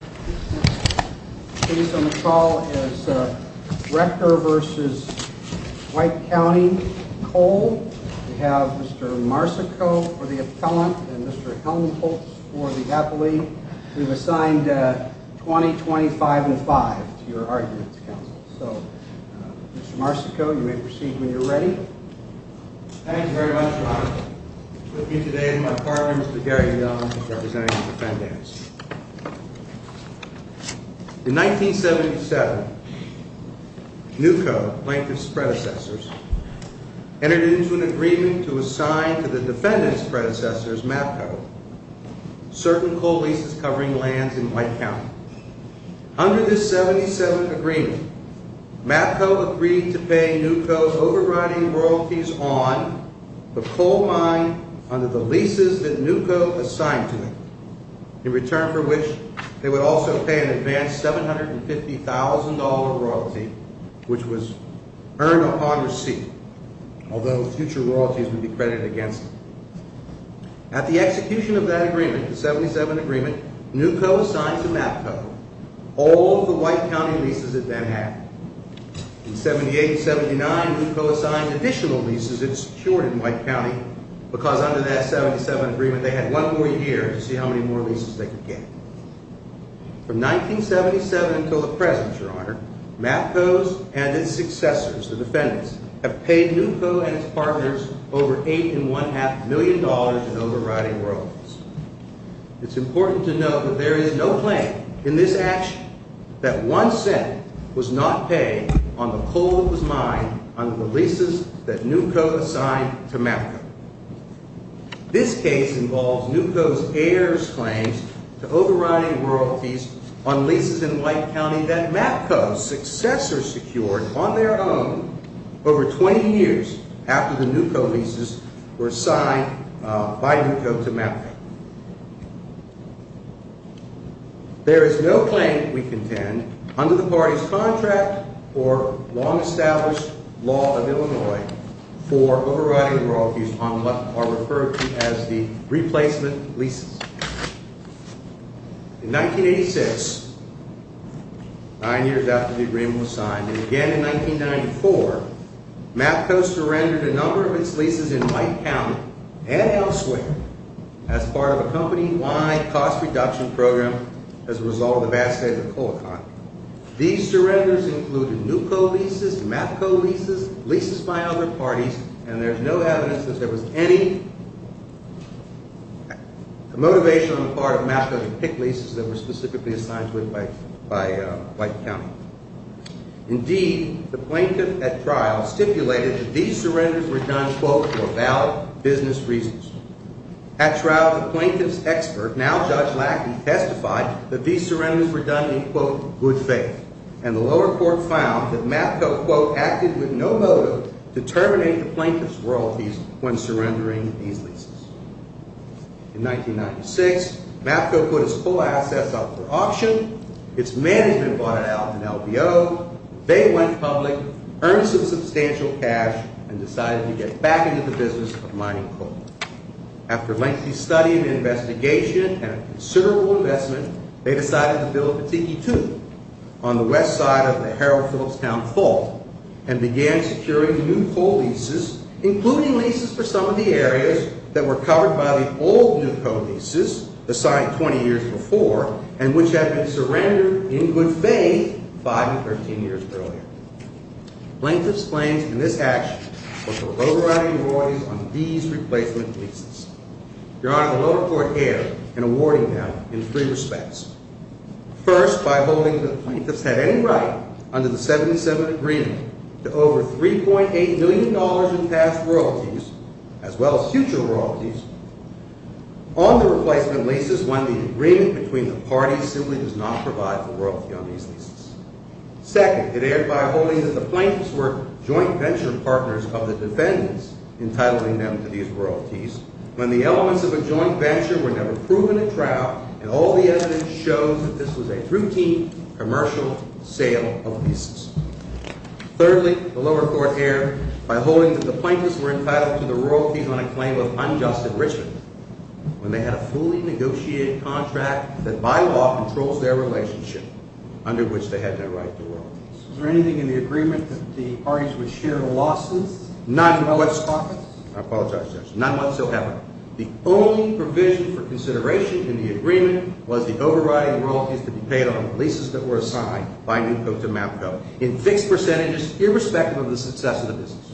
Next case on the call is Rector v. White Co. Coal. We have Mr. Marsico for the Appellant and Mr. Helmholtz for the Appellee. We've assigned 20, 25, and 5 to your arguments, counsel. So, Mr. Marsico, you may proceed when you're ready. Thank you very much, Ron. With me today is my partner, Mr. Gary Young, who's representing the defendants. In 1977, NUCO, Plaintiff's predecessors, entered into an agreement to assign to the defendants' predecessors, MAPCO, certain coal leases covering lands in White County. Under this 1977 agreement, MAPCO agreed to pay NUCO's overriding royalties on the coal mine under the leases that NUCO assigned to it, in return for which they would also pay an advanced $750,000 royalty, which was earned upon receipt, although future royalties would be credited against it. At the execution of that agreement, the 1977 agreement, NUCO assigned to MAPCO all of the White County leases it then had. In 1978-79, NUCO assigned additional leases it secured in White County, because under that 1977 agreement, they had one more year to see how many more leases they could get. From 1977 until the present, Your Honor, MAPCO's and its successors, the defendants, have paid NUCO and its partners over $8.5 million in overriding royalties. It's important to note that there is no claim in this action that one cent was not paid on the coal of the mine under the leases that NUCO assigned to MAPCO. This case involves NUCO's heirs' claims to overriding royalties on leases in White County that MAPCO's successors secured on their own over 20 years after the NUCO leases were assigned by NUCO to MAPCO. There is no claim, we contend, under the party's contract or long-established law of Illinois for overriding royalties on what are referred to as the replacement leases. In 1986, nine years after the agreement was signed, and again in 1994, MAPCO surrendered a number of its leases in White County and elsewhere as part of a company-wide cost-reduction program as a result of the vast sales of coal economy. These surrenders included NUCO leases, MAPCO leases, leases by other parties, and there is no evidence that there was any motivation on the part of MAPCO to pick leases that were specifically assigned to it by White County. Indeed, the plaintiff at trial stipulated that these surrenders were done, quote, for valid business reasons. At trial, the plaintiff's expert, now Judge Lackley, testified that these surrenders were done in, quote, good faith, and the lower court found that MAPCO, quote, acted with no motive to terminate the plaintiff's royalties when surrendering these leases. In 1996, MAPCO put its coal assets up for auction. Its management bought it out in LBO. They went public, earned some substantial cash, and decided to get back into the business of mining coal. After lengthy study and investigation and a considerable investment, they decided to bill a Petiti II on the west side of the Harold Phillips Town Fault and began securing NUCO leases, including leases for some of the areas that were covered by the old NUCO leases assigned 20 years before and which had been surrendered in good faith 5 and 13 years earlier. Plaintiff's claims in this action were for a low variety of royalties on these replacement leases. Your Honor, the lower court erred in awarding them in three respects. First, by holding that the plaintiffs had any right under the 1977 agreement to over $3.8 million in past royalties, as well as future royalties, on the replacement leases when the agreement between the parties simply does not provide for royalty on these leases. Second, it erred by holding that the plaintiffs were joint venture partners of the defendants, entitling them to these royalties, when the elements of a joint venture were never proven at trial and all the evidence shows that this was a routine commercial sale of leases. Thirdly, the lower court erred by holding that the plaintiffs were entitled to the royalties on a claim of unjust enrichment, when they had a fully negotiated contract that by law controls their relationship, under which they had no right to royalties. Is there anything in the agreement that the parties would share losses? None whatsoever. None whatsoever. The only provision for consideration in the agreement was the overriding royalties that were paid on the leases that were assigned by Newcoat to Mapco in fixed percentages, irrespective of the success of the business.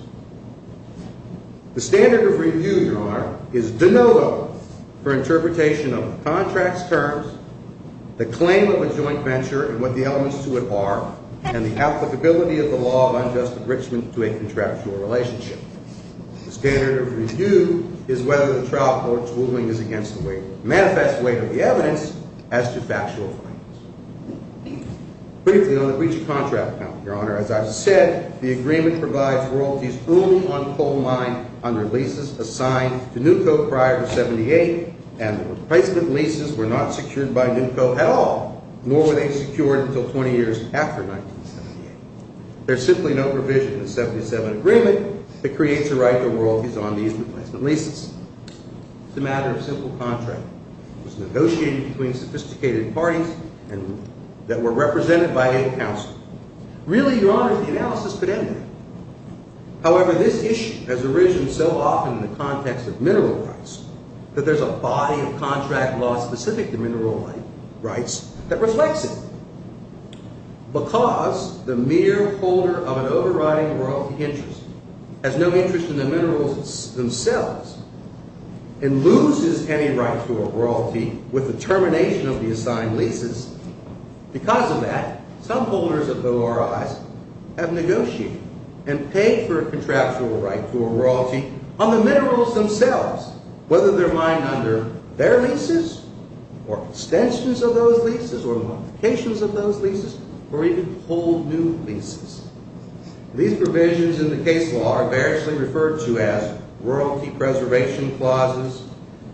The standard of review, Your Honor, is de novo for interpretation of the contract's terms, the claim of a joint venture and what the elements to it are, and the applicability of the law of unjust enrichment to a contractual relationship. The standard of review is whether the trial court's ruling is against the manifest weight of the evidence as to factual findings. Briefly on the breach of contract, Your Honor, as I've said, the agreement provides royalties only on coal mine under leases assigned to Newcoat prior to 1978, and the replacement leases were not secured by Newcoat at all, nor were they secured until 20 years after 1978. There's simply no provision in the 1977 agreement that creates a right to royalties on these replacement leases. It's a matter of simple contract. It was negotiated between sophisticated parties that were represented by a counselor. Really, Your Honor, the analysis could end there. However, this issue has arisen so often in the context of mineral rights that there's a body of contract law specific to mineral rights that reflects it. Because the mere holder of an overriding royalty interest has no interest in the minerals themselves and loses any right to a royalty with the termination of the assigned leases, because of that, some holders of ORIs have negotiated and paid for a contractual right to a royalty on the minerals themselves, whether they're mined under their leases, or extensions of those leases, or modifications of those leases, or even whole new leases. These provisions in the case law are variously referred to as royalty preservation clauses,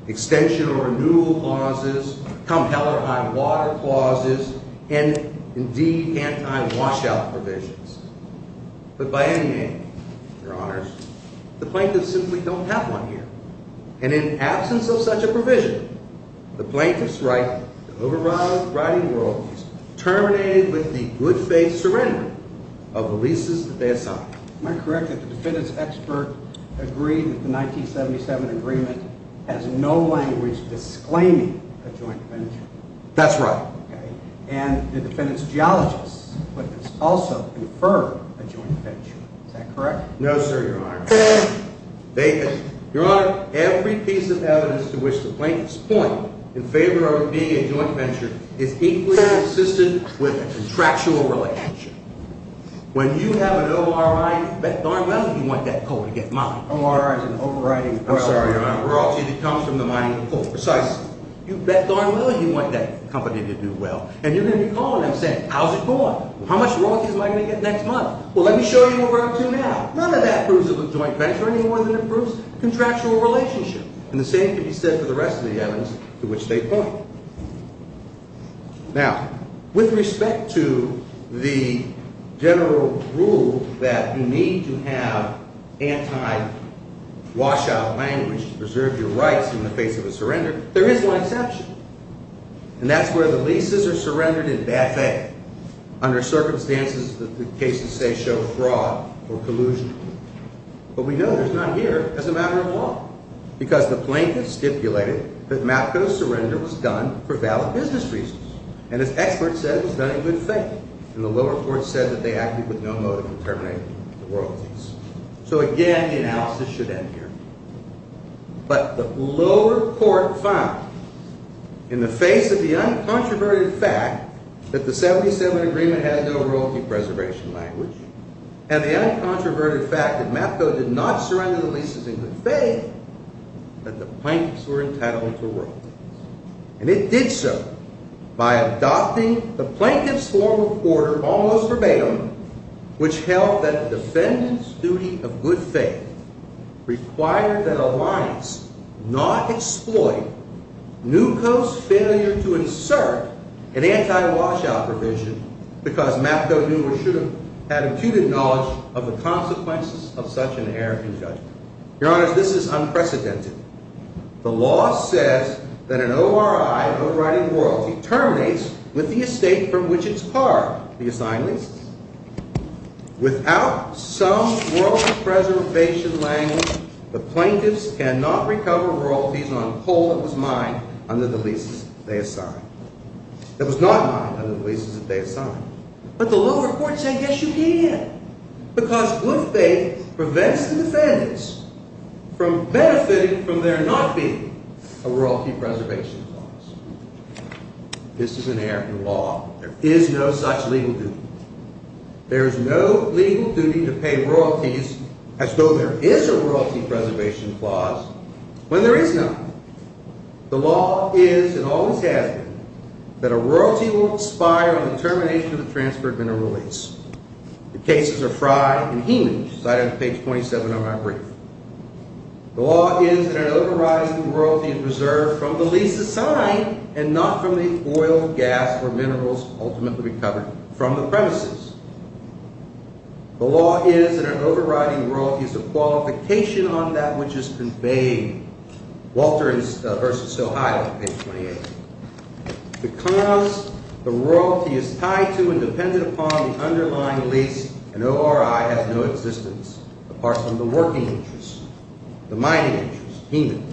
extension or renewal clauses, compelling on water clauses, and indeed, anti-washout provisions. But by any means, Your Honors, the plaintiffs simply don't have one here. And in absence of such a provision, the plaintiff's right to override royalty is terminated with the good faith surrender of the leases that they assign. Am I correct that the defendants' expert agreed that the 1977 agreement has no language disclaiming a joint venture? That's right. And the defendants' geologist also confirmed a joint venture. Is that correct? No, sir, Your Honor. Your Honor, every piece of evidence to which the plaintiffs point in favor of it being a joint venture is equally consistent with a contractual relationship. When you have an ORI, you bet darn well you want that coal to get mined. ORIs and overriding royalties. I'm sorry, Your Honor. Royalty that comes from the mining of coal. Precisely. You bet darn well you want that company to do well. And you're going to be calling them saying, how's it going? How much royalties am I going to get next month? Well, let me show you what we're up to now. None of that proves a joint venture any more than it proves a contractual relationship. And the same can be said for the rest of the evidence to which they point. Now, with respect to the general rule that you need to have anti-washout language to preserve your rights in the face of a surrender, there is one exception. And that's where the leases are surrendered in bad faith. Under circumstances that the cases say show fraud or collusion. But we know there's none here as a matter of law. Because the plaintiffs stipulated that Mapco's surrender was done for valid business reasons. And its experts said it was done in good faith. And the lower court said that they acted with no motive to terminate the royalties. So again, the analysis should end here. But the lower court found, in the face of the uncontroverted fact that the 77 Agreement had no royalty preservation language, and the uncontroverted fact that Mapco did not surrender the leases in good faith, that the plaintiffs were entitled to royalties. And it did so by adopting the plaintiff's form of order almost verbatim, which held that the defendant's duty of good faith required that Alliance not exploit Newco's failure to insert an anti-washout provision, because Mapco knew or should have had acute knowledge of the consequences of such an error in judgment. Your Honor, this is unprecedented. The law says that an ORI, a vote-writing royalty, terminates with the estate from which it's parred, the assigned leases. Without some royalty preservation language, the plaintiffs cannot recover royalties on a poll that was not mined under the leases that they assigned. But the lower court said, yes, you can. Because good faith prevents the defendants from benefiting from there not being a royalty preservation clause. This is an American law. There is no such legal duty. There is no legal duty to pay royalties as though there is a royalty preservation clause when there is none. The law is, and always has been, that a royalty will expire on the termination of the transfer of mineral lease. The cases are Fry and Heenan, cited on page 27 of my brief. The law is that an overriding royalty is preserved from the lease assigned and not from the oil, gas, or minerals ultimately recovered from the premises. The law is that an overriding royalty is a qualification on that which is conveyed. Walter versus Ohio, page 28. Because the royalty is tied to and dependent upon the underlying lease, an ORI has no existence apart from the working interest, the mining interest, Heenan.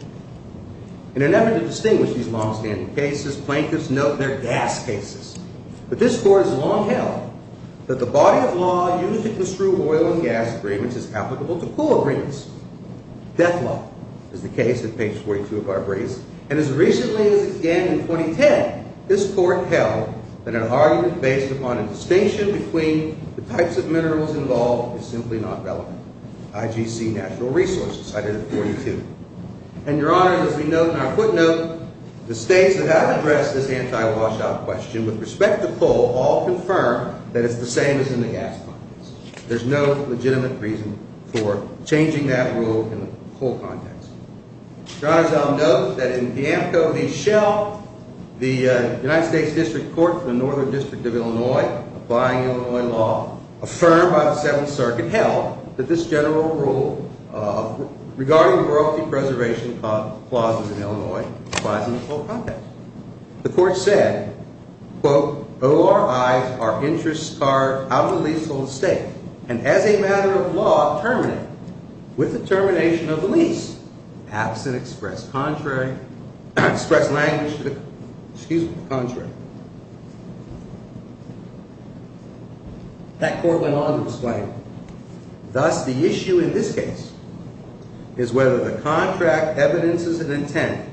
In an effort to distinguish these longstanding cases, plaintiffs note their gas cases. But this court has long held that the body of law used to construe oil and gas agreements is applicable to pool agreements. Death law is the case at page 42 of our brief. And as recently as again in 2010, this court held that an argument based upon a distinction between the types of minerals involved is simply not relevant. IGC National Resources, cited at 42. And, Your Honor, as we note in our footnote, the states that have addressed this anti-washout question with respect to pool all confirm that it's the same as in the gas context. There's no legitimate reason for changing that rule in the pool context. Your Honor, as I'll note, that in Piamco v. Shell, the United States District Court for the Northern District of Illinois, applying Illinois law, affirmed by the Seventh Circuit held that this general rule regarding royalty preservation clauses in Illinois applies in the pool context. The court said, quote, ORIs are interests carved out of the leasehold estate and, as a matter of law, terminate with the termination of the lease. Absent express language to the contrary. That court went on to explain, thus, the issue in this case is whether the contract evidences an intent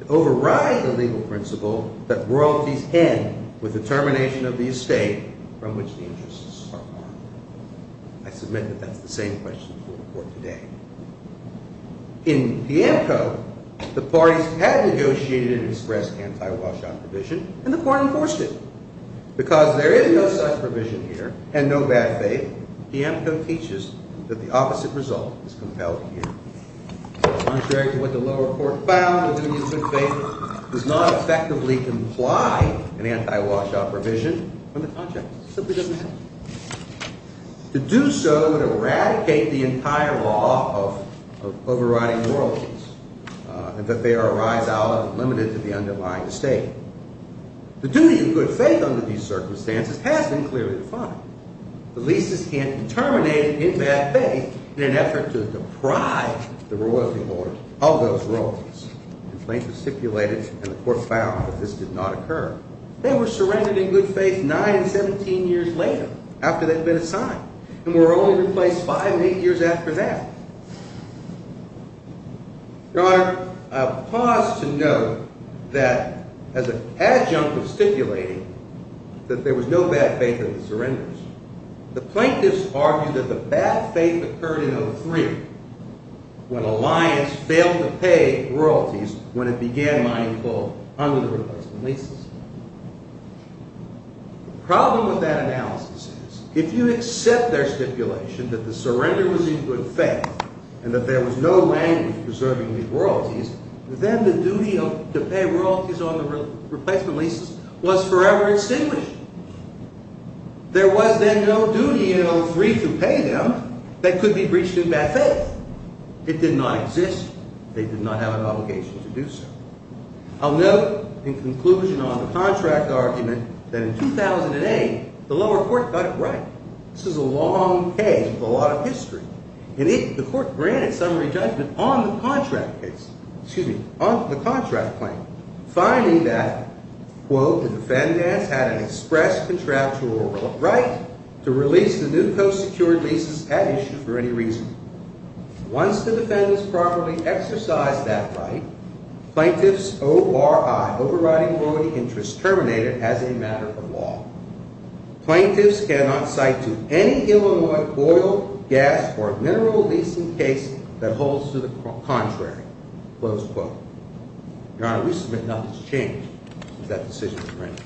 to override the legal principle that royalties end with the termination of the estate from which the interests are carved. I submit that that's the same question to the court today. In Piamco, the parties had negotiated an express anti-washout provision, and the court enforced it. Because there is no such provision here, and no bad faith, Piamco teaches that the opposite result is compelled here. Contrary to what the lower court found, the duty of good faith does not effectively comply with an anti-washout provision on the contract. It simply doesn't happen. To do so would eradicate the entire law of overriding royalties, and that they arise out of and limited to the underlying estate. The duty of good faith under these circumstances has been clearly defined. The leases can't be terminated in bad faith in an effort to deprive the royalty board of those royalties. Complaints were stipulated, and the court found that this did not occur. They were surrendered in good faith 9 and 17 years later, after they'd been assigned, and were only replaced 5 and 8 years after that. Your Honor, I'll pause to note that as an adjunct of stipulating that there was no bad faith in the surrenders, the plaintiffs argued that the bad faith occurred in 03, when Alliance failed to pay royalties when it began mining coal under the replacement leases. The problem with that analysis is, if you accept their stipulation that the surrender was in good faith, and that there was no language preserving these royalties, then the duty to pay royalties on the replacement leases was forever extinguished. There was then no duty in 03 to pay them that could be breached in bad faith. It did not exist. They did not have an obligation to do so. I'll note, in conclusion on the contract argument, that in 2008, the lower court got it right. This is a long case with a lot of history. And the court granted summary judgment on the contract claim, finding that, quote, the defendants had an express contractual right to release the new co-secured leases at issue for any reason. Once the defendants properly exercised that right, plaintiffs O-R-I, overriding royalty interest, terminate it as a matter of law. Plaintiffs cannot cite to any Illinois oil, gas, or mineral leasing case that holds to the contrary, close quote. Your Honor, we submit nothing has changed since that decision was granted.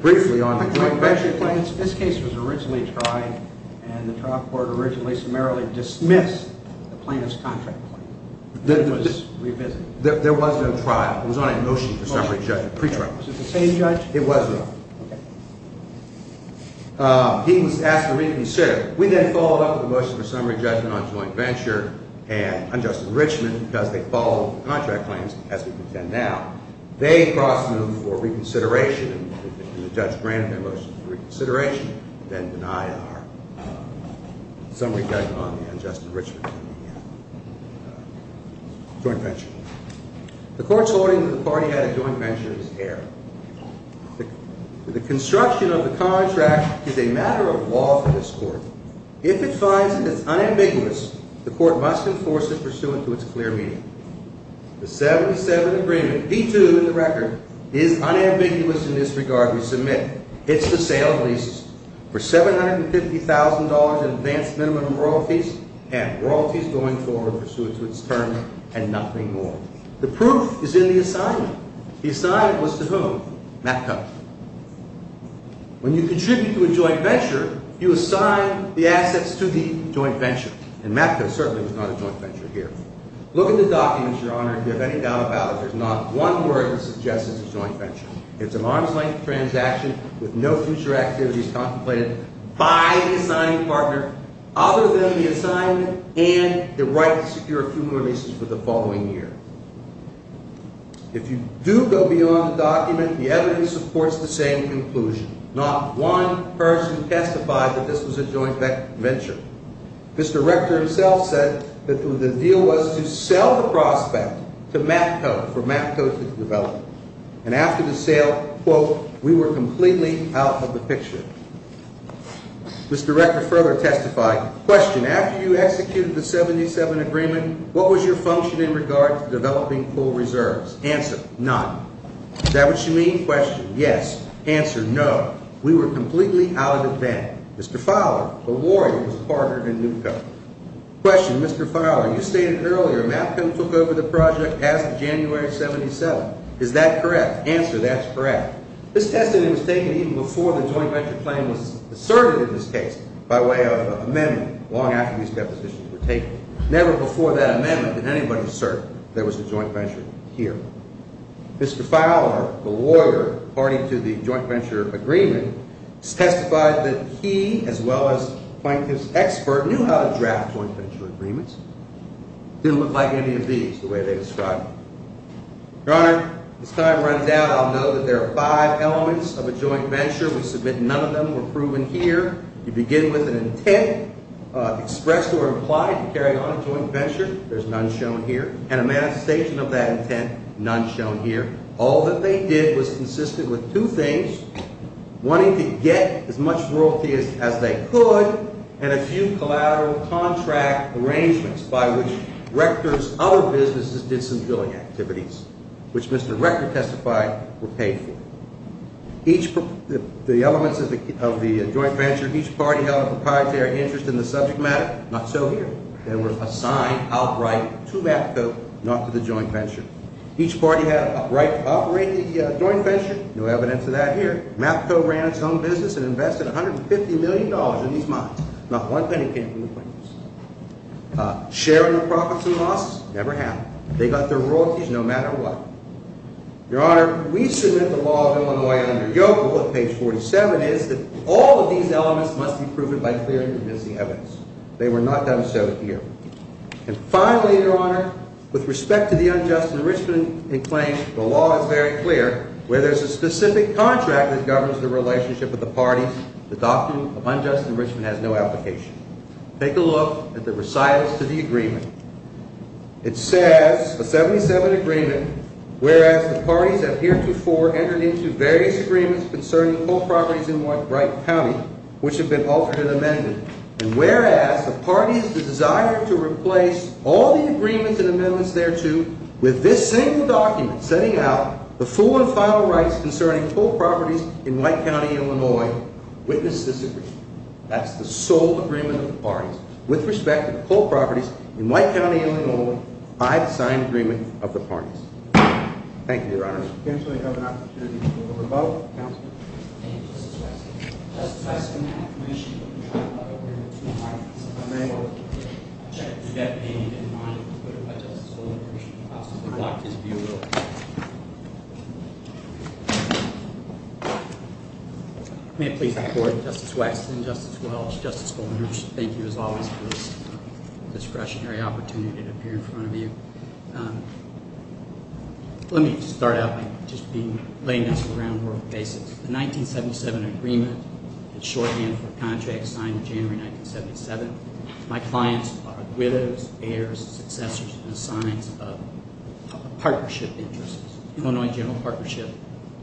Briefly on the joint venture claims. This case was originally tried, and the trial court originally summarily dismissed the plaintiff's contract claim. It was revisited. There was no trial. It was on a motion for summary judgment, pre-trial. Was it the same judge? It was not. He was asked to reconsider. We then followed up with a motion for summary judgment on joint venture, and on Justice Richman, because they followed the contract claims as we contend now. They cross-moved for reconsideration, and the judge granted their motion for reconsideration, then denied our summary judgment on the unjust enrichment of the joint venture. The court's holding that the party had a joint venture is error. The construction of the contract is a matter of law for this court. If it finds it is unambiguous, the court must enforce it pursuant to its clear meaning. The 77 agreement, D-2 in the record, is unambiguous in this regard we submit. It's the sale of leases for $750,000 in advanced minimum royalties, and royalties going forward pursuant to its term, and nothing more. The proof is in the assignment. The assignment was to whom? Matco. When you contribute to a joint venture, you assign the assets to the joint venture. And Matco certainly was not a joint venture here. Look at the documents, Your Honor, if you have any doubt about it. There's not one word that suggests it's a joint venture. It's an arm's-length transaction with no future activities contemplated by the assigned partner other than the assignment and the right to secure accumulations for the following year. If you do go beyond the document, the evidence supports the same conclusion. Not one person testified that this was a joint venture. Mr. Rector himself said that the deal was to sell the prospect to Matco for Matco to develop. And after the sale, quote, we were completely out of the picture. Mr. Rector further testified, question, after you executed the 77 agreement, what was your function in regard to developing pool reserves? Answer, none. Is that what you mean? Question, yes. Answer, no. Question, Mr. Fowler, you stated earlier Matco took over the project as of January of 77. Is that correct? Answer, that's correct. This testimony was taken even before the joint venture claim was asserted in this case by way of an amendment long after these depositions were taken. Never before that amendment did anybody assert there was a joint venture here. Mr. Fowler, the lawyer party to the joint venture agreement, testified that he, as well as Plaintiff's expert, knew how to draft joint venture agreements. Didn't look like any of these, the way they described them. Your Honor, as time runs out, I'll note that there are five elements of a joint venture. We submit none of them were proven here. You begin with an intent expressed or implied to carry on a joint venture. And a manifestation of that intent, none shown here. All that they did was consistent with two things, wanting to get as much royalty as they could and a few collateral contract arrangements by which Rector's other businesses did some billing activities, which Mr. Rector testified were paid for. The elements of the joint venture, each party held a proprietary interest in the subject matter, not so here. They were assigned outright to MAFCO, not to the joint venture. Each party had the right to operate the joint venture. No evidence of that here. MAFCO ran its own business and invested $150 million in these mines. Not one penny came from the plaintiffs. Share in the profits and losses, never happened. They got their royalties no matter what. Your Honor, we submit the law of Illinois under Yokel at page 47 is that all of these elements must be proven by clear and convincing evidence. They were not done so here. And finally, Your Honor, with respect to the unjust enrichment claims, the law is very clear. Where there's a specific contract that governs the relationship of the parties, the doctrine of unjust enrichment has no application. Take a look at the recitals to the agreement. It says, a 77 agreement, whereas the parties have heretofore entered into various agreements concerning whole properties in Wright County, which have been altered and amended. And whereas the parties desire to replace all the agreements and amendments thereto with this single document setting out the full and final rights concerning whole properties in White County, Illinois. Witness this agreement. That's the sole agreement of the parties with respect to the whole properties in White County, Illinois by the signed agreement of the parties. Thank you, Your Honor. Counsel, you have an opportunity to go to the rebuttal. Counselor? Thank you, Justice Weston. Justice Weston, I have permission to rebuttal. I may or may not. I object to that payment in writing, but if I, Justice Goldenberg, should possibly block his view, I will. May it please the Court, Justice Weston, Justice Welch, Justice Goldenberg, thank you as always for this discretionary opportunity to appear in front of you. Let me start out by just laying out some groundwork basics. The 1977 agreement is shorthand for a contract signed in January 1977. My clients are widows, heirs, successors, and assigns of partnership interests. Illinois General Partnership.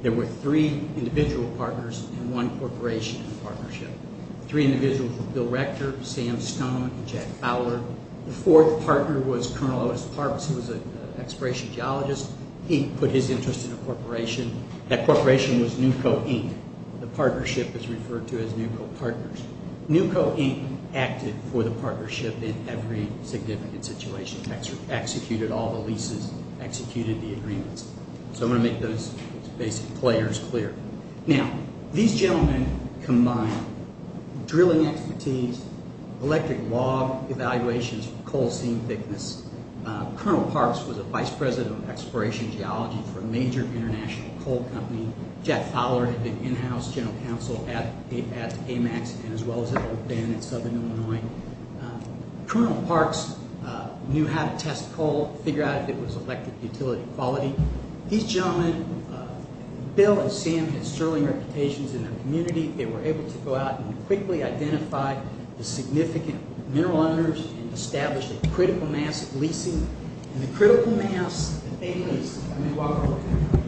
There were three individual partners and one corporation in the partnership. Three individuals were Bill Rector, Sam Stone, and Jack Fowler. The fourth partner was Colonel Otis Parks. He was an exploration geologist. He put his interest in a corporation. That corporation was NUCO, Inc. The partnership is referred to as NUCO Partners. NUCO, Inc. acted for the partnership in every significant situation. Executed all the leases, executed the agreements. So I'm going to make those basic players clear. Now, these gentlemen combined drilling expertise, electric log evaluations for coal seam thickness. Colonel Parks was a vice president of exploration geology for a major international coal company. Jack Fowler had been in-house general counsel at AMAX and as well as at Oak Bend in southern Illinois. Colonel Parks knew how to test coal, figure out if it was electric utility quality. These gentlemen, Bill and Sam had sterling reputations in their community. They were able to go out and quickly identify the significant mineral owners and establish a critical mass of leasing. And the critical mass that they leased, let me walk over here,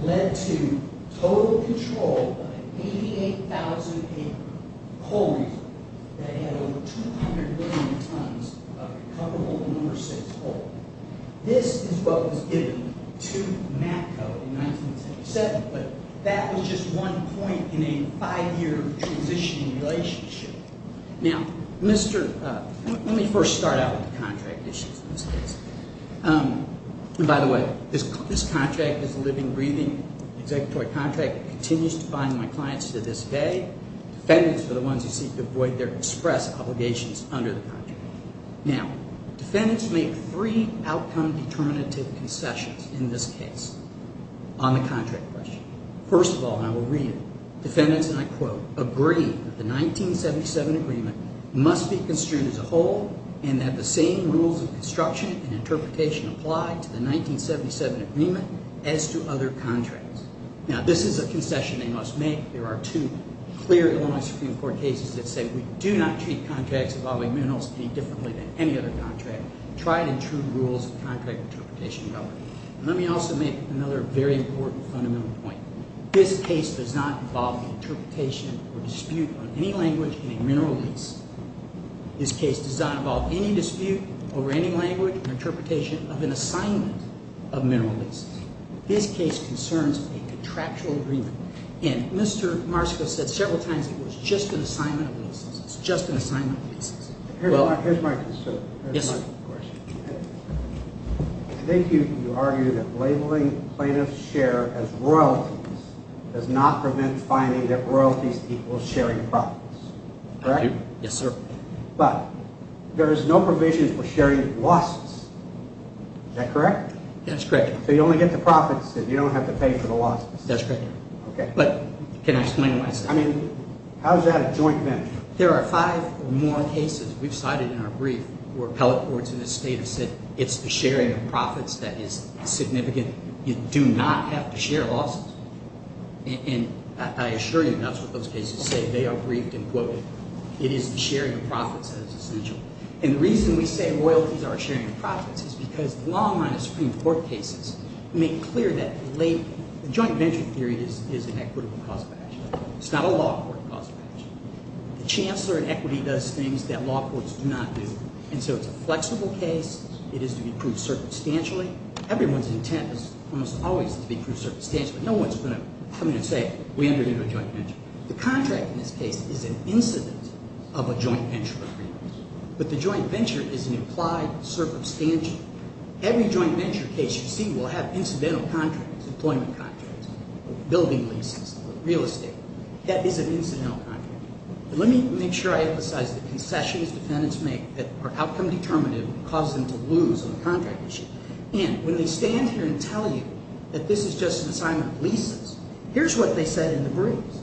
led to total control of 88,000 acre coal reserve. That had over 200 million tons of comfortable number 6 coal. This is what was given to MACCO in 1977. But that was just one point in a five-year transitioning relationship. Now, let me first start out with the contract issues in this case. And by the way, this contract is a living, breathing, executive contract. It continues to bind my clients to this day. Defendants are the ones who seek to avoid their express obligations under the contract. Now, defendants make three outcome determinative concessions in this case on the contract question. First of all, and I will read it, defendants, and I quote, agree that the 1977 agreement must be construed as a whole and that the same rules of construction and interpretation apply to the 1977 agreement as to other contracts. Now, this is a concession they must make. There are two clear Illinois Supreme Court cases that say we do not treat contracts involving minerals any differently than any other contract. Try to intrude rules of contract interpretation. Let me also make another very important fundamental point. This case does not involve an interpretation or dispute on any language in a mineral lease. This case does not involve any dispute over any language or interpretation of an assignment of mineral leases. This case concerns a contractual agreement. And Mr. Marsco said several times it was just an assignment of leases. It's just an assignment of leases. Here's my concern. Yes, sir. I think you argue that labeling plaintiff's share as royalties does not prevent finding that royalties equals sharing profits. Yes, sir. But there is no provision for sharing losses. Is that correct? That's correct. So you only get the profits and you don't have to pay for the losses. But can I explain myself? How is that a joint venture? There are five more cases we've cited in our brief where appellate courts in this state have said it's the sharing of profits that is significant. You do not have to share losses. And I assure you that's what those cases say. They are briefed and quoted. It is the sharing of profits that is essential. And the reason we say royalties are a sharing of profits is because the long run of Supreme Court cases make clear that joint venture theory is an equitable cause of action. It's not a law court cause of action. The chancellor in equity does things that law courts do not do. And so it's a flexible case. It is to be proved circumstantially. Everyone's intent is almost always to be proved circumstantially. No one's going to come in and say we undertook a joint venture. The contract in this case is an incident of a joint venture agreement. But the joint venture is an implied circumstantial. Every joint venture case you see will have incidental contracts, employment contracts, building leases, real estate. That is an incidental contract. Let me make sure I emphasize the concessions defendants make that are outcome determinative and cause them to lose on the contract issue. And when they stand here and tell you that this is just an assignment of leases, here's what they said in the briefs.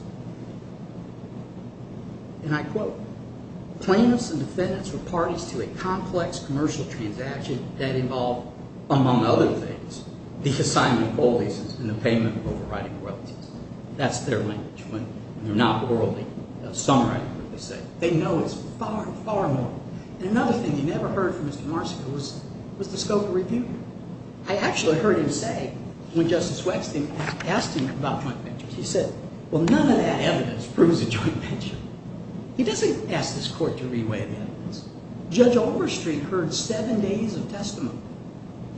And I quote, plaintiffs and defendants were parties to a complex commercial transaction that involved, among other things, the assignment of coal leases and the payment of overriding royalties. That's their language when they're not orally summarizing what they say. They know it's far, far more. And another thing you never heard from Mr. Marsika was the scope of review. I actually heard him say when Justice Waxman asked him about joint ventures, he said, well, none of that evidence proves a joint venture. He doesn't ask this court to re-weigh the evidence. Judge Overstreet heard seven days of testimony.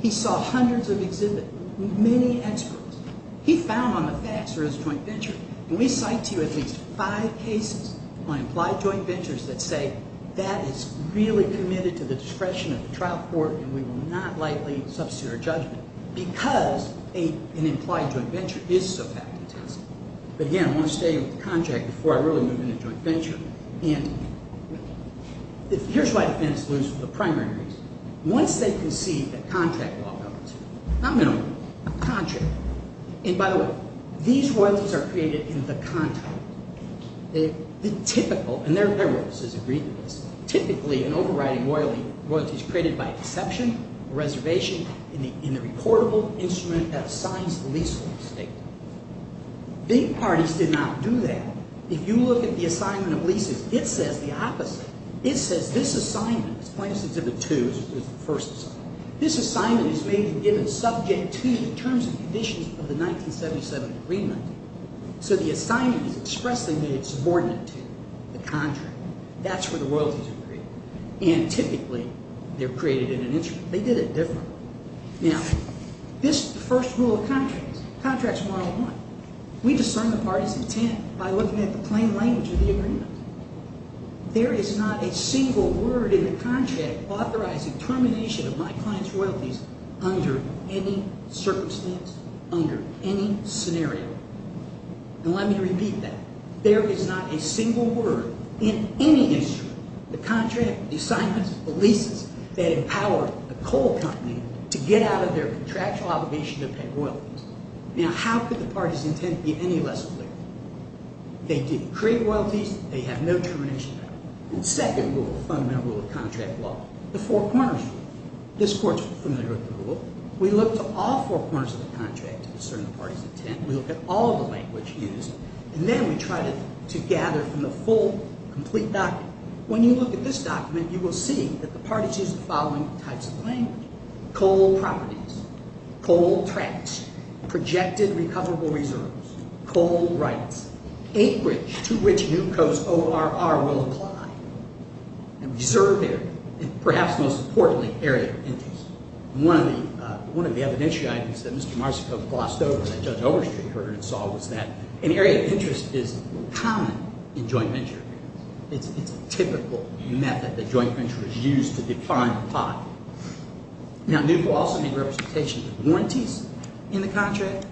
He saw hundreds of exhibits, many experts. He found on the facts there is a joint venture. And we cite to you at least five cases on implied joint ventures that say that is really committed to the discretion of the trial court and we will not lightly substitute our judgment because an implied joint venture is so fact-intensive. But again, I want to stay with the contract before I really move into joint venture. And here's why defendants lose for the primary reason. Once they concede that contract law covers it, not minimum, contract. And by the way, these royalties are created in the contract. The typical, and they're royalties as a grievance, typically an overriding royalty is created by exception, reservation, in the reportable instrument that assigns the leasehold estate. Big parties did not do that. If you look at the assignment of leases, it says the opposite. It says this assignment, this plaintiff's certificate two is the first assignment. This assignment is made and given subject to the terms and conditions of the 1977 agreement. So the assignment is expressly made subordinate to the contract. That's where the royalties are created. And typically, they're created in an instrument. They did it differently. Now, this is the first rule of contracts. Contracts model one. We discern the party's intent by looking at the plain language of the agreement. There is not a single word in the contract authorizing termination of my client's royalties under any circumstance, under any scenario. And let me repeat that. There is not a single word in any instrument, the contract, the assignments, the leases that empower the coal company to get out of their contractual obligation to pay royalties. Now, how could the party's intent be any less clear? They didn't create royalties. They have no termination power. The second rule, fundamental rule of contract law, the four corners rule. This court's familiar with the rule. We look to all four corners of the contract to discern the party's intent. We look at all the language used. And then we try to gather from the full, complete document. When you look at this document, you will see that the party's used the following types of language. Coal properties, coal tracks, projected recoverable reserves, coal rights, acreage to which New Coast ORR will apply, and reserve area. And perhaps most importantly, area of interest. One of the evidential items that Mr. Marsico glossed over, that Judge Overstreet heard and saw, was that an area of interest is common in joint venture agreements. It's a typical method that joint ventures use to define a pot. Now, NUCCO also made representations of warranties in the contract.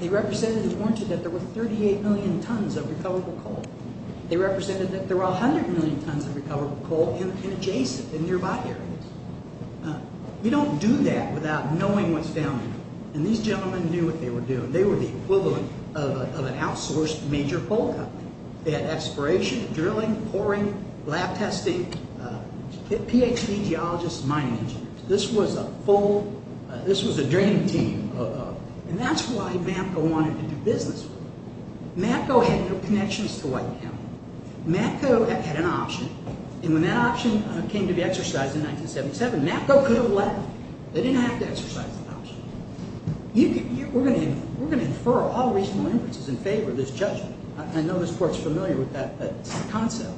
They represented and warranted that there were 38 million tons of recoverable coal. They represented that there were 100 million tons of recoverable coal in adjacent, in nearby areas. Now, you don't do that without knowing what's down there. And these gentlemen knew what they were doing. They were the equivalent of an outsourced major coal company. They had exploration, drilling, pouring, lab testing, PhD geologists, mining engineers. This was a full, this was a training team. And that's why MAPCO wanted to do business with them. MAPCO had no connections to Whiteham. MAPCO had an option. And when that option came to be exercised in 1977, MAPCO could have let them. They didn't have to exercise the option. We're going to infer all reasonable inferences in favor of this judgment. I know this court's familiar with that concept.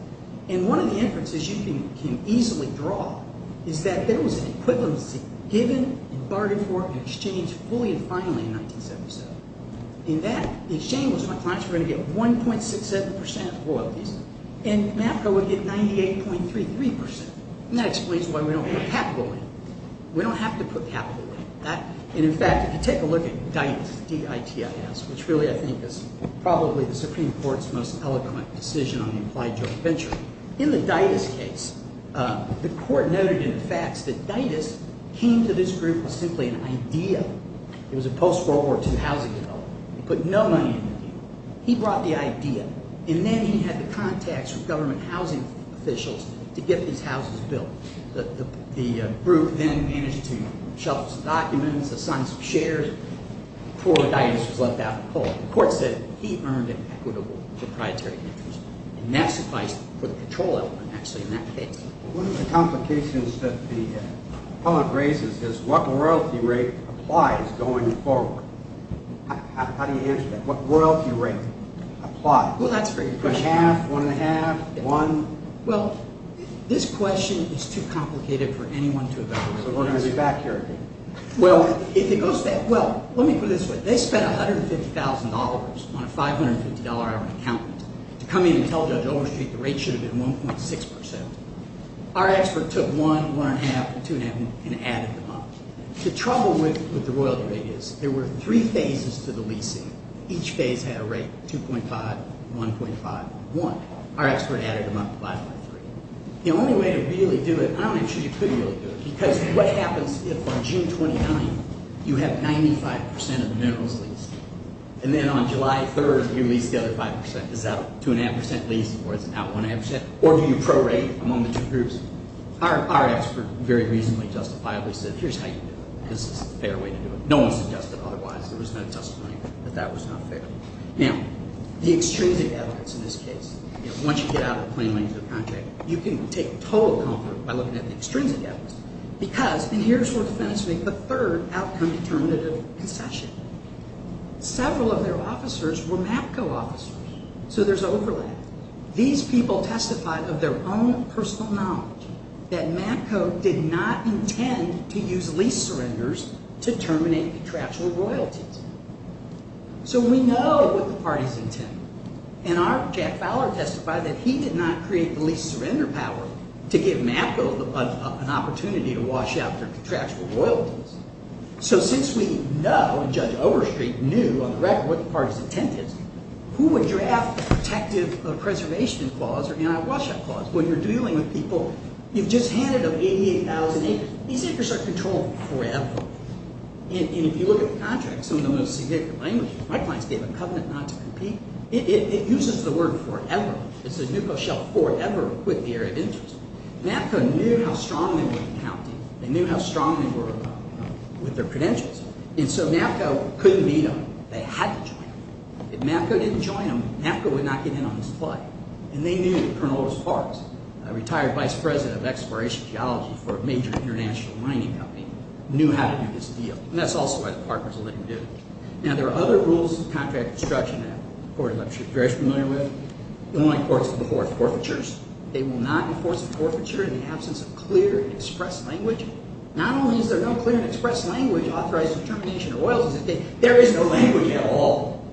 And one of the inferences you can easily draw is that there was an equivalency given and bargained for and exchanged fully and finally in 1977. In that exchange, my clients were going to get 1.67% of the royalties. And MAPCO would get 98.33%. And that explains why we don't put capital in. We don't have to put capital in. And in fact, if you take a look at DITAS, D-I-T-I-S, which really I think is probably the Supreme Court's most eloquent decision on the implied joint venture. In the DITAS case, the court noted in the facts that DITAS came to this group with simply an idea. It was a post-World War II housing development. They put no money in the deal. He brought the idea, and then he had the contacts from government housing officials to get these houses built. The group then managed to shelve some documents, assign some shares, before DITAS was left out in the cold. The court said he earned an equitable proprietary interest, and that sufficed for the control element actually in that case. One of the complications that the public raises is what royalty rate applies going forward. How do you answer that? What royalty rate applies? Well, that's a great question. One-half, one-and-a-half, one? Well, this question is too complicated for anyone to evaluate. So we're going to be back here again. Well, let me put it this way. They spent $150,000 on a $550-hour account to come in and tell Judge Overstreet the rate should have been 1.6%. Our expert took one, one-and-a-half, and two-and-a-half, and added them up. The trouble with the royalty rate is there were three phases to the leasing. Each phase had a rate of 2.5, 1.5, 1. Our expert added them up 5.3. The only way to really do it, I'm not even sure you could really do it, because what happens if on June 29th you have 95% of the minerals leased? And then on July 3rd you lease the other 5%. Is that a two-and-a-half percent lease, or is it out one-and-a-half percent? Or do you prorate among the two groups? Our expert very reasonably justifiably said, here's how you do it. This is the fair way to do it. No one suggested otherwise. There was no testimony that that was not fair. Now, the extrinsic evidence in this case. Once you get out of the plain language of the contract, you can take total comfort by looking at the extrinsic evidence. Because, and here's where defense makes the third outcome-determinative concession. Several of their officers were MAPCO officers, so there's overlap. These people testified of their own personal knowledge that MAPCO did not intend to use lease surrenders to terminate contractual royalties. So we know what the parties intended. And our Jack Fowler testified that he did not create the lease surrender power to give MAPCO an opportunity to wash out their contractual royalties. So since we know, and Judge Overstreet knew on the record what the parties intended, who would draft the protective preservation clause or anti-washout clause? When you're dealing with people, you've just handed them 88,000 acres. These acres are controlled forever. And if you look at the contract, some of the most significant language, my clients gave a covenant not to compete. It uses the word forever. It says MAPCO shall forever quit the area of interest. MAPCO knew how strong they were in county. They knew how strong they were with their credentials. And so MAPCO couldn't beat them. They had to join them. If MAPCO didn't join them, MAPCO would not get in on this play. And they knew that Colonel Otis Parks, a retired vice president of exploration geology for a major international mining company, knew how to do this deal. And that's also why the partners will let him do it. Now, there are other rules of contract construction that the court in Leipzig is very familiar with. The only courts before are forfeitures. They will not enforce a forfeiture in the absence of clear and express language. Not only is there no clear and express language authorizing termination of royalties, there is no language at all.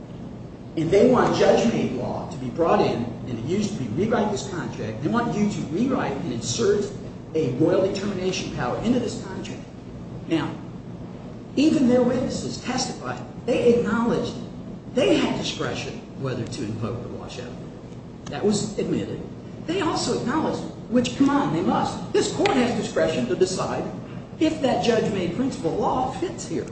If they want judgment law to be brought in and used to rewrite this contract, they want you to rewrite and insert a royalty termination power into this contract. Now, even their witnesses testified. They acknowledged they had discretion whether to invoke the washout. That was admitted. They also acknowledged, which, come on, they must. This court has discretion to decide if that judge-made principle law fits here.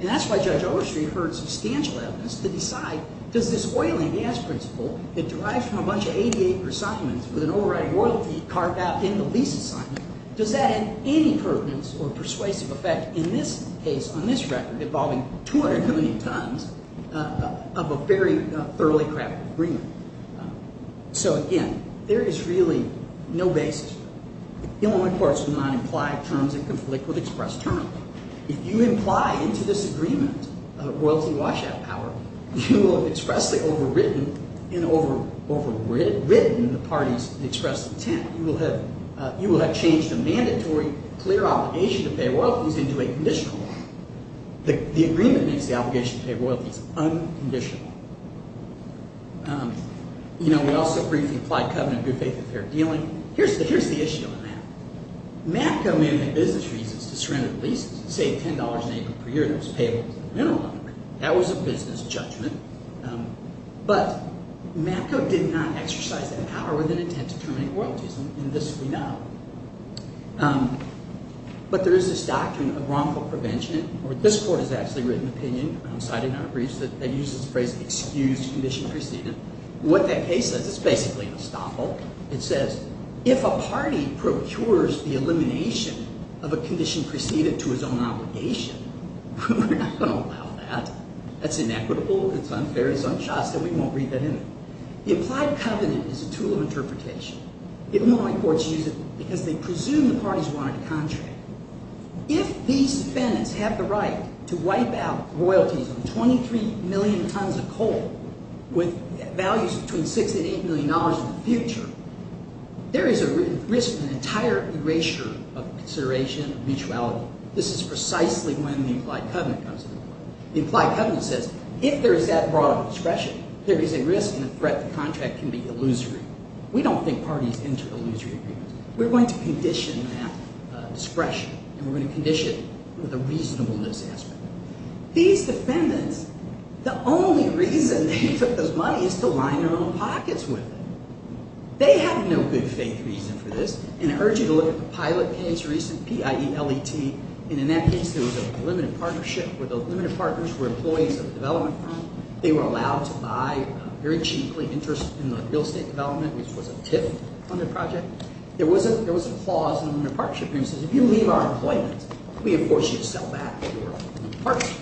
And that's why Judge Overstreet heard substantial evidence to decide, does this oil and gas principle that derives from a bunch of 88-year assignments with an overriding royalty carved out in the lease assignment, does that have any pertinence or persuasive effect in this case, on this record, involving 200 million tons of a very thoroughly crafted agreement? So, again, there is really no basis. The only courts would not imply terms that conflict with express term. If you imply into this agreement a royalty washout power, you will have expressly overridden the party's expressed intent. You will have changed a mandatory, clear obligation to pay royalties into a conditional one. The agreement makes the obligation to pay royalties unconditional. We also briefly applied covenant of good faith in fair dealing. Here's the issue on that. Matco mandated business reasons to surrender the leases and save $10 an acre per year that was payable with a mineral number. That was a business judgment. But Matco did not exercise that power with an intent to terminate royalties, and this we know. But there is this doctrine of wrongful prevention, or this court has actually written opinion, citing our briefs, that uses the phrase excused condition preceded. What that case says is basically an estoppel. It says if a party procures the elimination of a condition preceded to its own obligation, we're not going to allow that. That's inequitable, it's unfair, it's unjust, and we won't read that in it. The implied covenant is a tool of interpretation. Illinois courts use it because they presume the parties wanted to contract. If these defendants have the right to wipe out royalties on 23 million tons of coal with values between $6 and $8 million in the future, there is a risk of an entire erasure of consideration of mutuality. This is precisely when the implied covenant comes into play. The implied covenant says if there is that broad of discretion, there is a risk and a threat the contract can be illusory. We don't think parties enter illusory agreements. We're going to condition that discretion, and we're going to condition it with a reasonableness aspect. These defendants, the only reason they took those money is to line their own pockets with it. They have no good faith reason for this, and I urge you to look at the pilot case, recent PIELET, and in that case there was a limited partnership where the limited partners were employees of a development firm. They were allowed to buy very cheaply interest in the real estate development, which was a TIF funded project. There was a clause in the partnership agreement that says if you leave our employment, we enforce you to sell back your parts.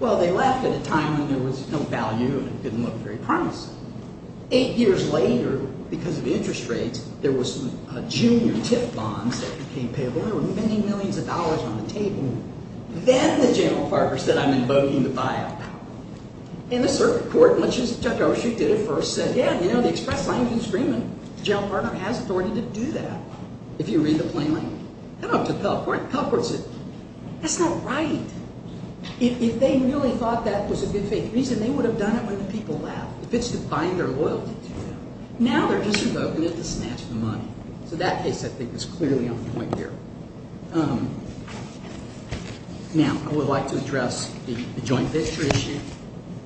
Well, they left at a time when there was no value and it didn't look very promising. Eight years later, because of interest rates, there were some junior TIF bonds that became payable. There were many millions of dollars on the table. Then the general partner said, I'm invoking the PIELT power. And the circuit court, much as Judge Oshet did at first, said, yeah, you know, the express language agreement, the general partner has authority to do that if you read the plain language. How about the Pell Court? The Pell Court said, that's not right. If they really thought that was a good faith reason, they would have done it when the people left. If it's to bind their loyalty to you. Now they're just invoking it to snatch the money. So that case, I think, is clearly on point here. Now, I would like to address the joint venture issue.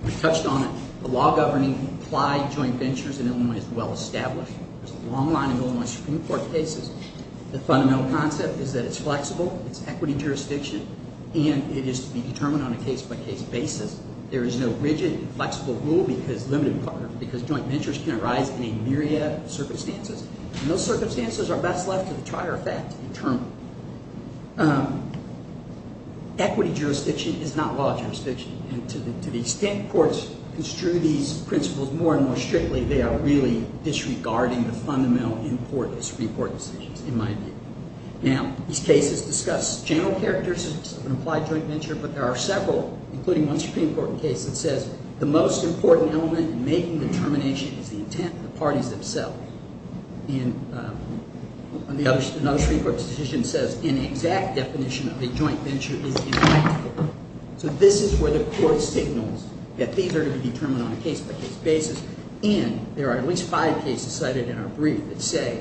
We touched on it. The law governing implied joint ventures in Illinois is well established. There's a long line of Illinois Supreme Court cases. The fundamental concept is that it's flexible, it's equity jurisdiction, and it is to be determined on a case-by-case basis. There is no rigid, flexible rule because joint ventures can arise in a myriad of circumstances. And those circumstances are best left to the trier effect to determine. Equity jurisdiction is not law jurisdiction. And to the extent courts construe these principles more and more strictly, they are really disregarding the fundamental importance of Supreme Court decisions, in my view. Now, these cases discuss general characteristics of an implied joint venture, but there are several, including one Supreme Court case that says, the most important element in making determination is the intent of the parties themselves. And another Supreme Court decision says, an exact definition of a joint venture is implied. So this is where the court signals that these are to be determined on a case-by-case basis. And there are at least five cases cited in our brief that say,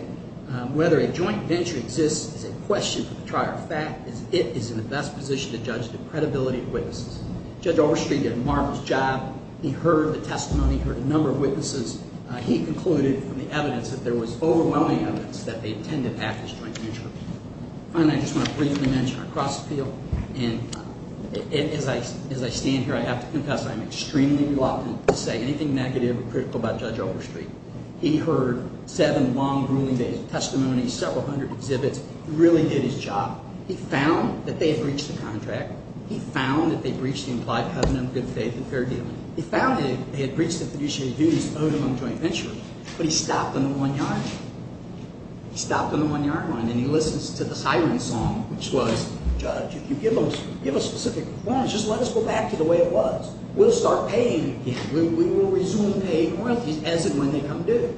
whether a joint venture exists is a question for the trier of fact, as it is in the best position to judge the credibility of witnesses. Judge Overstreet did a marvelous job. He heard the testimony, he heard a number of witnesses. He concluded from the evidence that there was overwhelming evidence that they attended after this joint venture. Finally, I just want to briefly mention our cross-appeal. And as I stand here, I have to confess, I am extremely reluctant to say anything negative or critical about Judge Overstreet. He heard seven long, grueling testimonies, several hundred exhibits. He really did his job. He found that they had breached the contract. He found that they breached the implied covenant of good faith and fair dealing. He found that they had breached the fiduciary duties owed among joint ventures. But he stopped on the one yard line. He stopped on the one yard line, and he listens to the siren song, which was, Judge, if you give us specific performance, just let us go back to the way it was. We'll start paying again. We will resume paying royalties as and when they come due.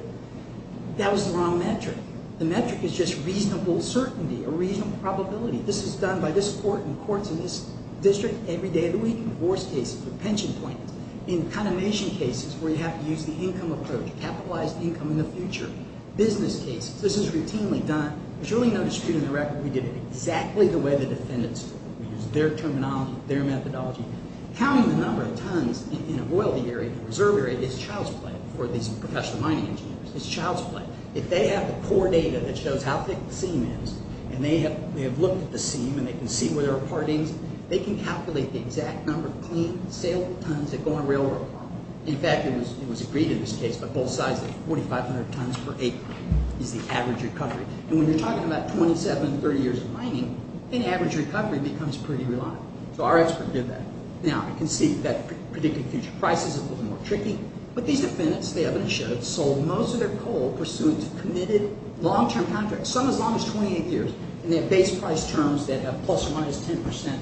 That was the wrong metric. The metric is just reasonable certainty, a reasonable probability. This is done by this court and courts in this district every day of the week, divorce cases or pension plans. In condemnation cases where you have to use the income approach, capitalized income in the future. Business cases, this is routinely done. There's really no dispute in the record. We did it exactly the way the defendants did it. We used their terminology, their methodology. Counting the number of tons in a royalty area, a reserve area, is child's play for these professional mining engineers. It's child's play. If they have the core data that shows how thick the seam is, and they have looked at the seam, and they can see where there are partings, they can calculate the exact number of clean, saleable tons that go in a railroad farm. In fact, it was agreed in this case by both sides that 4,500 tons per acre is the average recovery. And when you're talking about 27, 30 years of mining, then average recovery becomes pretty reliant. So our expert did that. Now, I can see that predicted future prices, it was more tricky, but these defendants, the evidence shows, sold most of their coal pursuant to committed long-term contracts, some as long as 28 years, and they have base price terms that have plus or minus 10%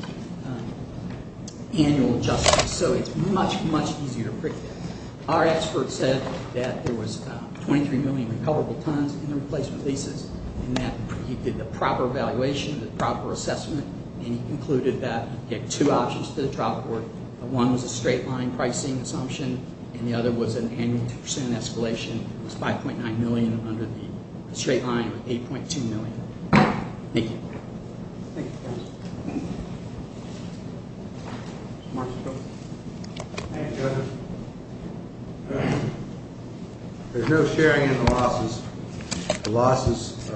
annual adjustments. So it's much, much easier to predict that. Our expert said that there was 23 million recoverable tons in the replacement leases, and that he did the proper evaluation, the proper assessment, and he concluded that he had two options to the trial court. One was a straight line pricing assumption, and the other was an annual 2% escalation. It was 5.9 million under the straight line, or 8.2 million. Thank you. Thank you. Thank you. Mr. Marks. Thank you, Judge. There's no sharing in the losses. The losses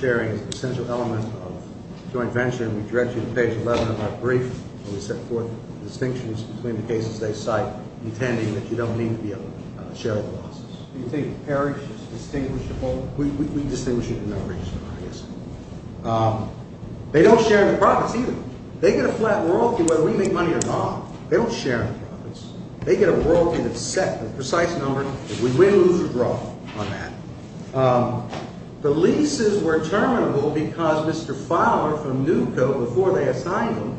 sharing is an essential element of joint venture, and we direct you to page 11 of our brief, where we set forth the distinctions between the cases they cite, intending that you don't need to be able to share the losses. Do you think Parish is distinguishable? We distinguish it in their briefs, I guess. They don't share in the profits either. They get a flat royalty whether we make money or not. They don't share in the profits. They get a royalty that's set, a precise number, and we win, lose, or draw on that. The leases were terminable because Mr. Fowler from NUCO, before they assigned them,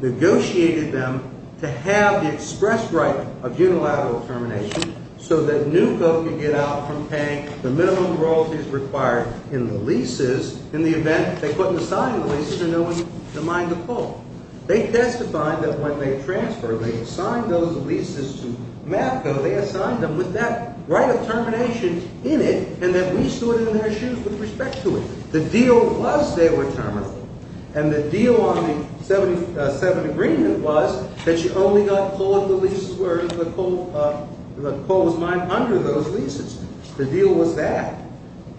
negotiated them to have the express right of unilateral termination so that NUCO could get out from paying the minimum royalties required in the leases in the event they couldn't assign the leases and no one could mine the coal. They testified that when they transferred, they assigned those leases to MAFCO. They assigned them with that right of termination in it and that we stood in their shoes with respect to it. The deal was they were terminable, and the deal on the 77 agreement was that you only got coal in the leases, or the coal was mined under those leases. The deal was that.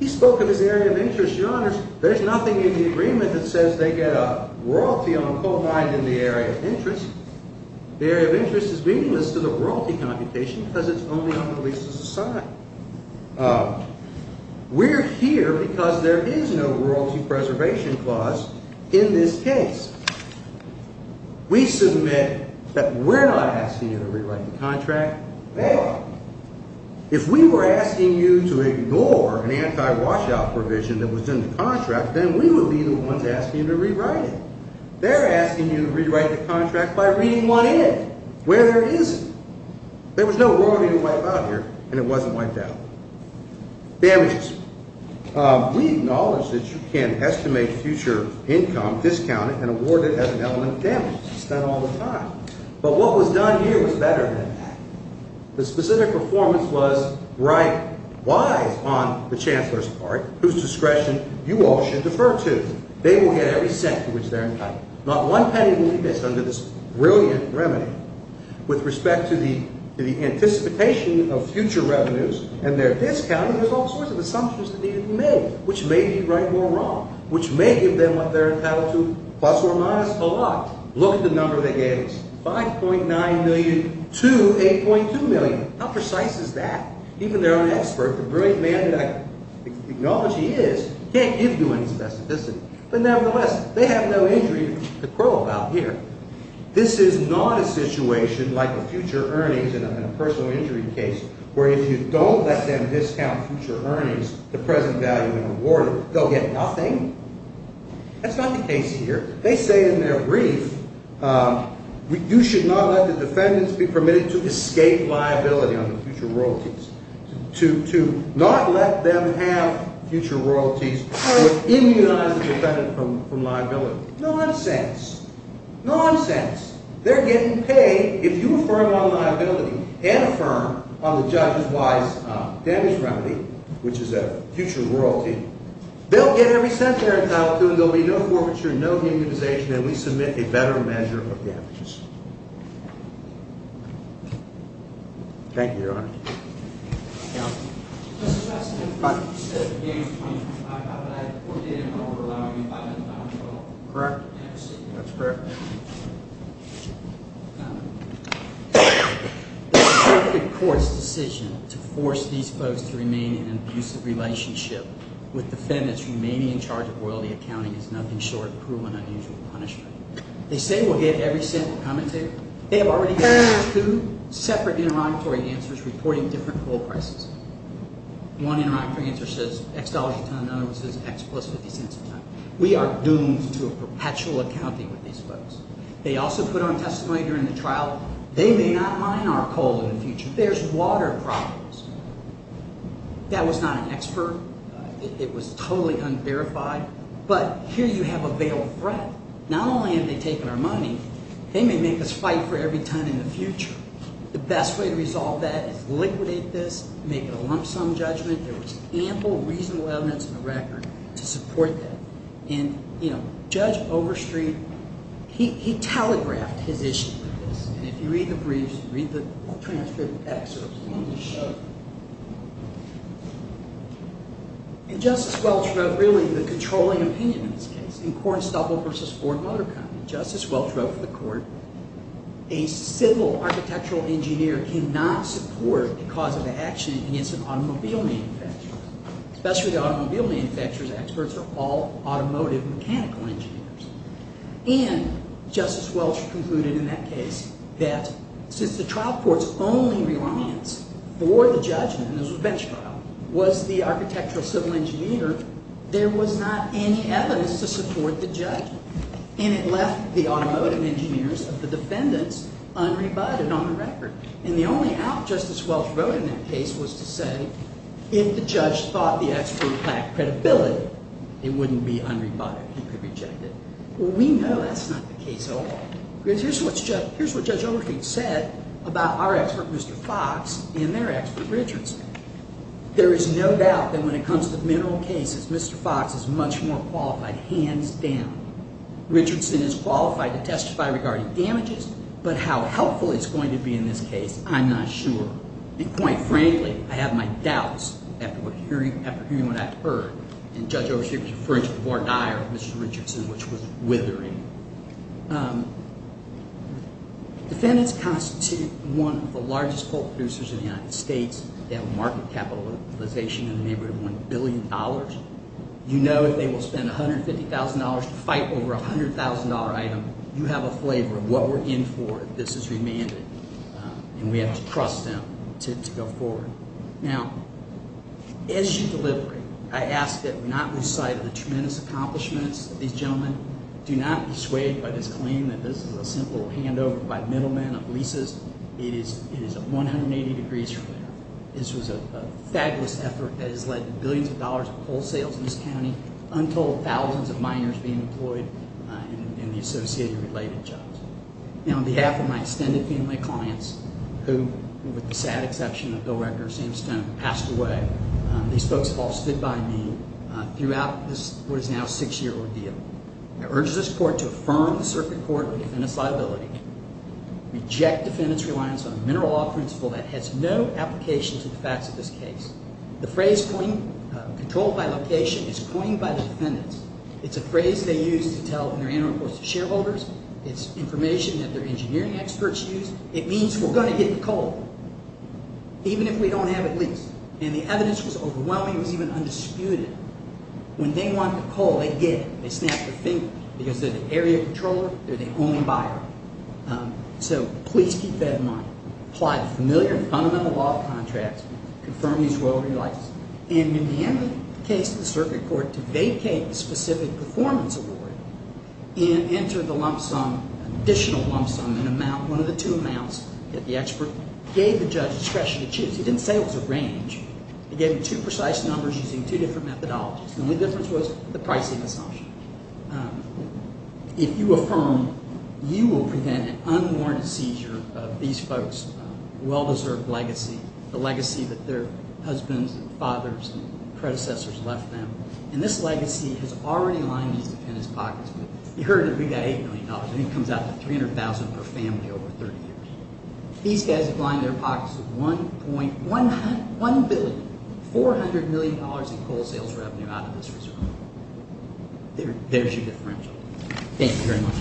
In this area of interest, Your Honors, there's nothing in the agreement that says they get a royalty on coal mined in the area of interest. The area of interest is meaningless to the royalty computation because it's only on the leases assigned. We're here because there is no royalty preservation clause in this case. We submit that we're not asking you to rewrite the contract, or if we were asking you to ignore an anti-washout provision that was in the contract, then we would be the ones asking you to rewrite it. They're asking you to rewrite the contract by reading one in where there isn't. There was no royalty to wipe out here, and it wasn't wiped out. Damages. We acknowledge that you can estimate future income, discount it, and award it as an element of damages. It's done all the time. But what was done here was better than that. The specific performance was right, wise on the Chancellor's part, whose discretion you all should defer to. They will get every cent for which they're entitled. Not one penny will be missed under this brilliant remedy. With respect to the anticipation of future revenues and their discounting, there's all sorts of assumptions that need to be made, which may be right or wrong, which may give them what they're entitled to, plus or minus a lot. 5.9 million to 8.2 million. How precise is that? Even their own expert, the brilliant man that I acknowledge he is, can't give you any specificity. But nevertheless, they have no injury to crow about here. This is not a situation like a future earnings in a personal injury case where if you don't let them discount future earnings, the present value and reward, they'll get nothing. That's not the case here. They say in their brief, you should not let the defendants be permitted to escape liability on the future royalties. To not let them have future royalties or immunize the defendant from liability. Nonsense. Nonsense. They're getting paid. If you affirm on liability and affirm on the judge's wise damage remedy, which is a future royalty, they'll get every cent they're entitled to and there'll be no forfeiture, no immunization, and we submit a better measure of damages. Thank you, Your Honor. Counsel. Mr. Justice, you said the damage was 25,000, but I ordained them over allowing me $500,000. Correct. That's correct. The circuit court's decision to force these folks to remain in an abusive relationship with defendants remaining in charge of royalty accounting is nothing short of cruel and unusual punishment. They say we'll get every cent we're committed to. They have already given two separate interrogatory answers reporting different coal prices. One interrogatory answer says X dollars a ton, another one says X plus 50 cents a ton. We are doomed to a perpetual accounting with these folks. They also put on testimony during the trial, they may not mine our coal in the future. There's water problems. That was not an expert. It was totally unverified. But here you have a veiled threat. Not only are they taking our money, they may make us fight for every ton in the future. The best way to resolve that is liquidate this, make it a lump sum judgment. There was ample reasonable evidence in the record to support that. And, you know, Judge Overstreet, he telegraphed his issue with this. And if you read the briefs, read the transcribed excerpts, it's a long show. And Justice Welch wrote, really, the controlling opinion in this case. In Cornstubble v. Ford Motor Company, Justice Welch wrote for the court, a civil architectural engineer cannot support a cause of action against an automobile manufacturer. Especially the automobile manufacturers, experts are all automotive mechanical engineers. And Justice Welch concluded in that case that since the trial court's only reliance for the judgment, and this was a bench trial, was the architectural civil engineer, there was not any evidence to support the judgment. And it left the automotive engineers of the defendants unrebutted on the record. And the only out Justice Welch wrote in that case was to say if the judge thought the expert lacked credibility, it wouldn't be unrebutted. He could reject it. Well, we know that's not the case at all. Here's what Judge Overstreet said about our expert, Mr. Fox, and their expert, Richardson. There is no doubt that when it comes to mineral cases, Mr. Fox is much more qualified, hands down. Richardson is qualified to testify regarding damages, but how helpful it's going to be in this case, I'm not sure. And quite frankly, I have my doubts after hearing what I've heard. And Judge Overstreet was referring to the voir dire of Mr. Richardson, which was withering. Defendants constitute one of the largest coal producers in the United States. They have a market capitalization in the neighborhood of $1 billion. You know if they will spend $150,000 to fight over a $100,000 item, you have a flavor of what we're in for if this is remanded. And we have to trust them to go forward. Now, issue delivery. I ask that we not lose sight of the tremendous accomplishments of these gentlemen. Do not be swayed by this claim that this is a simple handover by middlemen of leases. It is 180 degrees from there. This was a fabulous effort that has led to billions of dollars in coal sales in this county, untold thousands of miners being employed in the associated related jobs. Now, on behalf of my extended family clients, who, with the sad exception of Bill Rector and Sam Stone, passed away, these folks have all stood by me throughout what is now a six year ordeal. I urge this court to affirm the circuit court of defendant's liability, reject defendant's reliance on a mineral law principle that has no application and is always controlled by location. It's coined by the defendants. It's a phrase they use to tell their annual reports to shareholders. It's information that their engineering experts use. It means we're going to get the coal, even if we don't have it leased. And the evidence was overwhelming. It was even undisputed. When they want the coal, they get it. They snap their fingers because they're the area controller. They're the only buyer. So, please keep that in mind. Apply the familiar fundamental law of contracts and in the end of the case, the circuit court to vacate the specific performance award and enter the lump sum, additional lump sum, an amount, one of the two amounts that the expert gave the judge discretion to choose. He didn't say it was a range. He gave him two precise numbers using two different methodologies. The only difference was the pricing assumption. If you affirm, you will prevent an unwarranted seizure of these folks' well-deserved legacy, the legacy that their husbands and predecessors left them. And this legacy has already lined these defendants' pockets. You heard that we got $8 million. I think it comes out to $300,000 per family over 30 years. These guys have lined their pockets with $1.1 billion, $400 million in coal sales revenue out of this reserve. There's your differential. Thank you very much.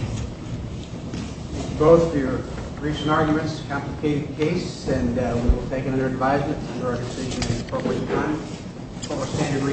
Thank you both for your recent arguments, complicated case, and we will thank you for your advisement and we look forward to hearing from you.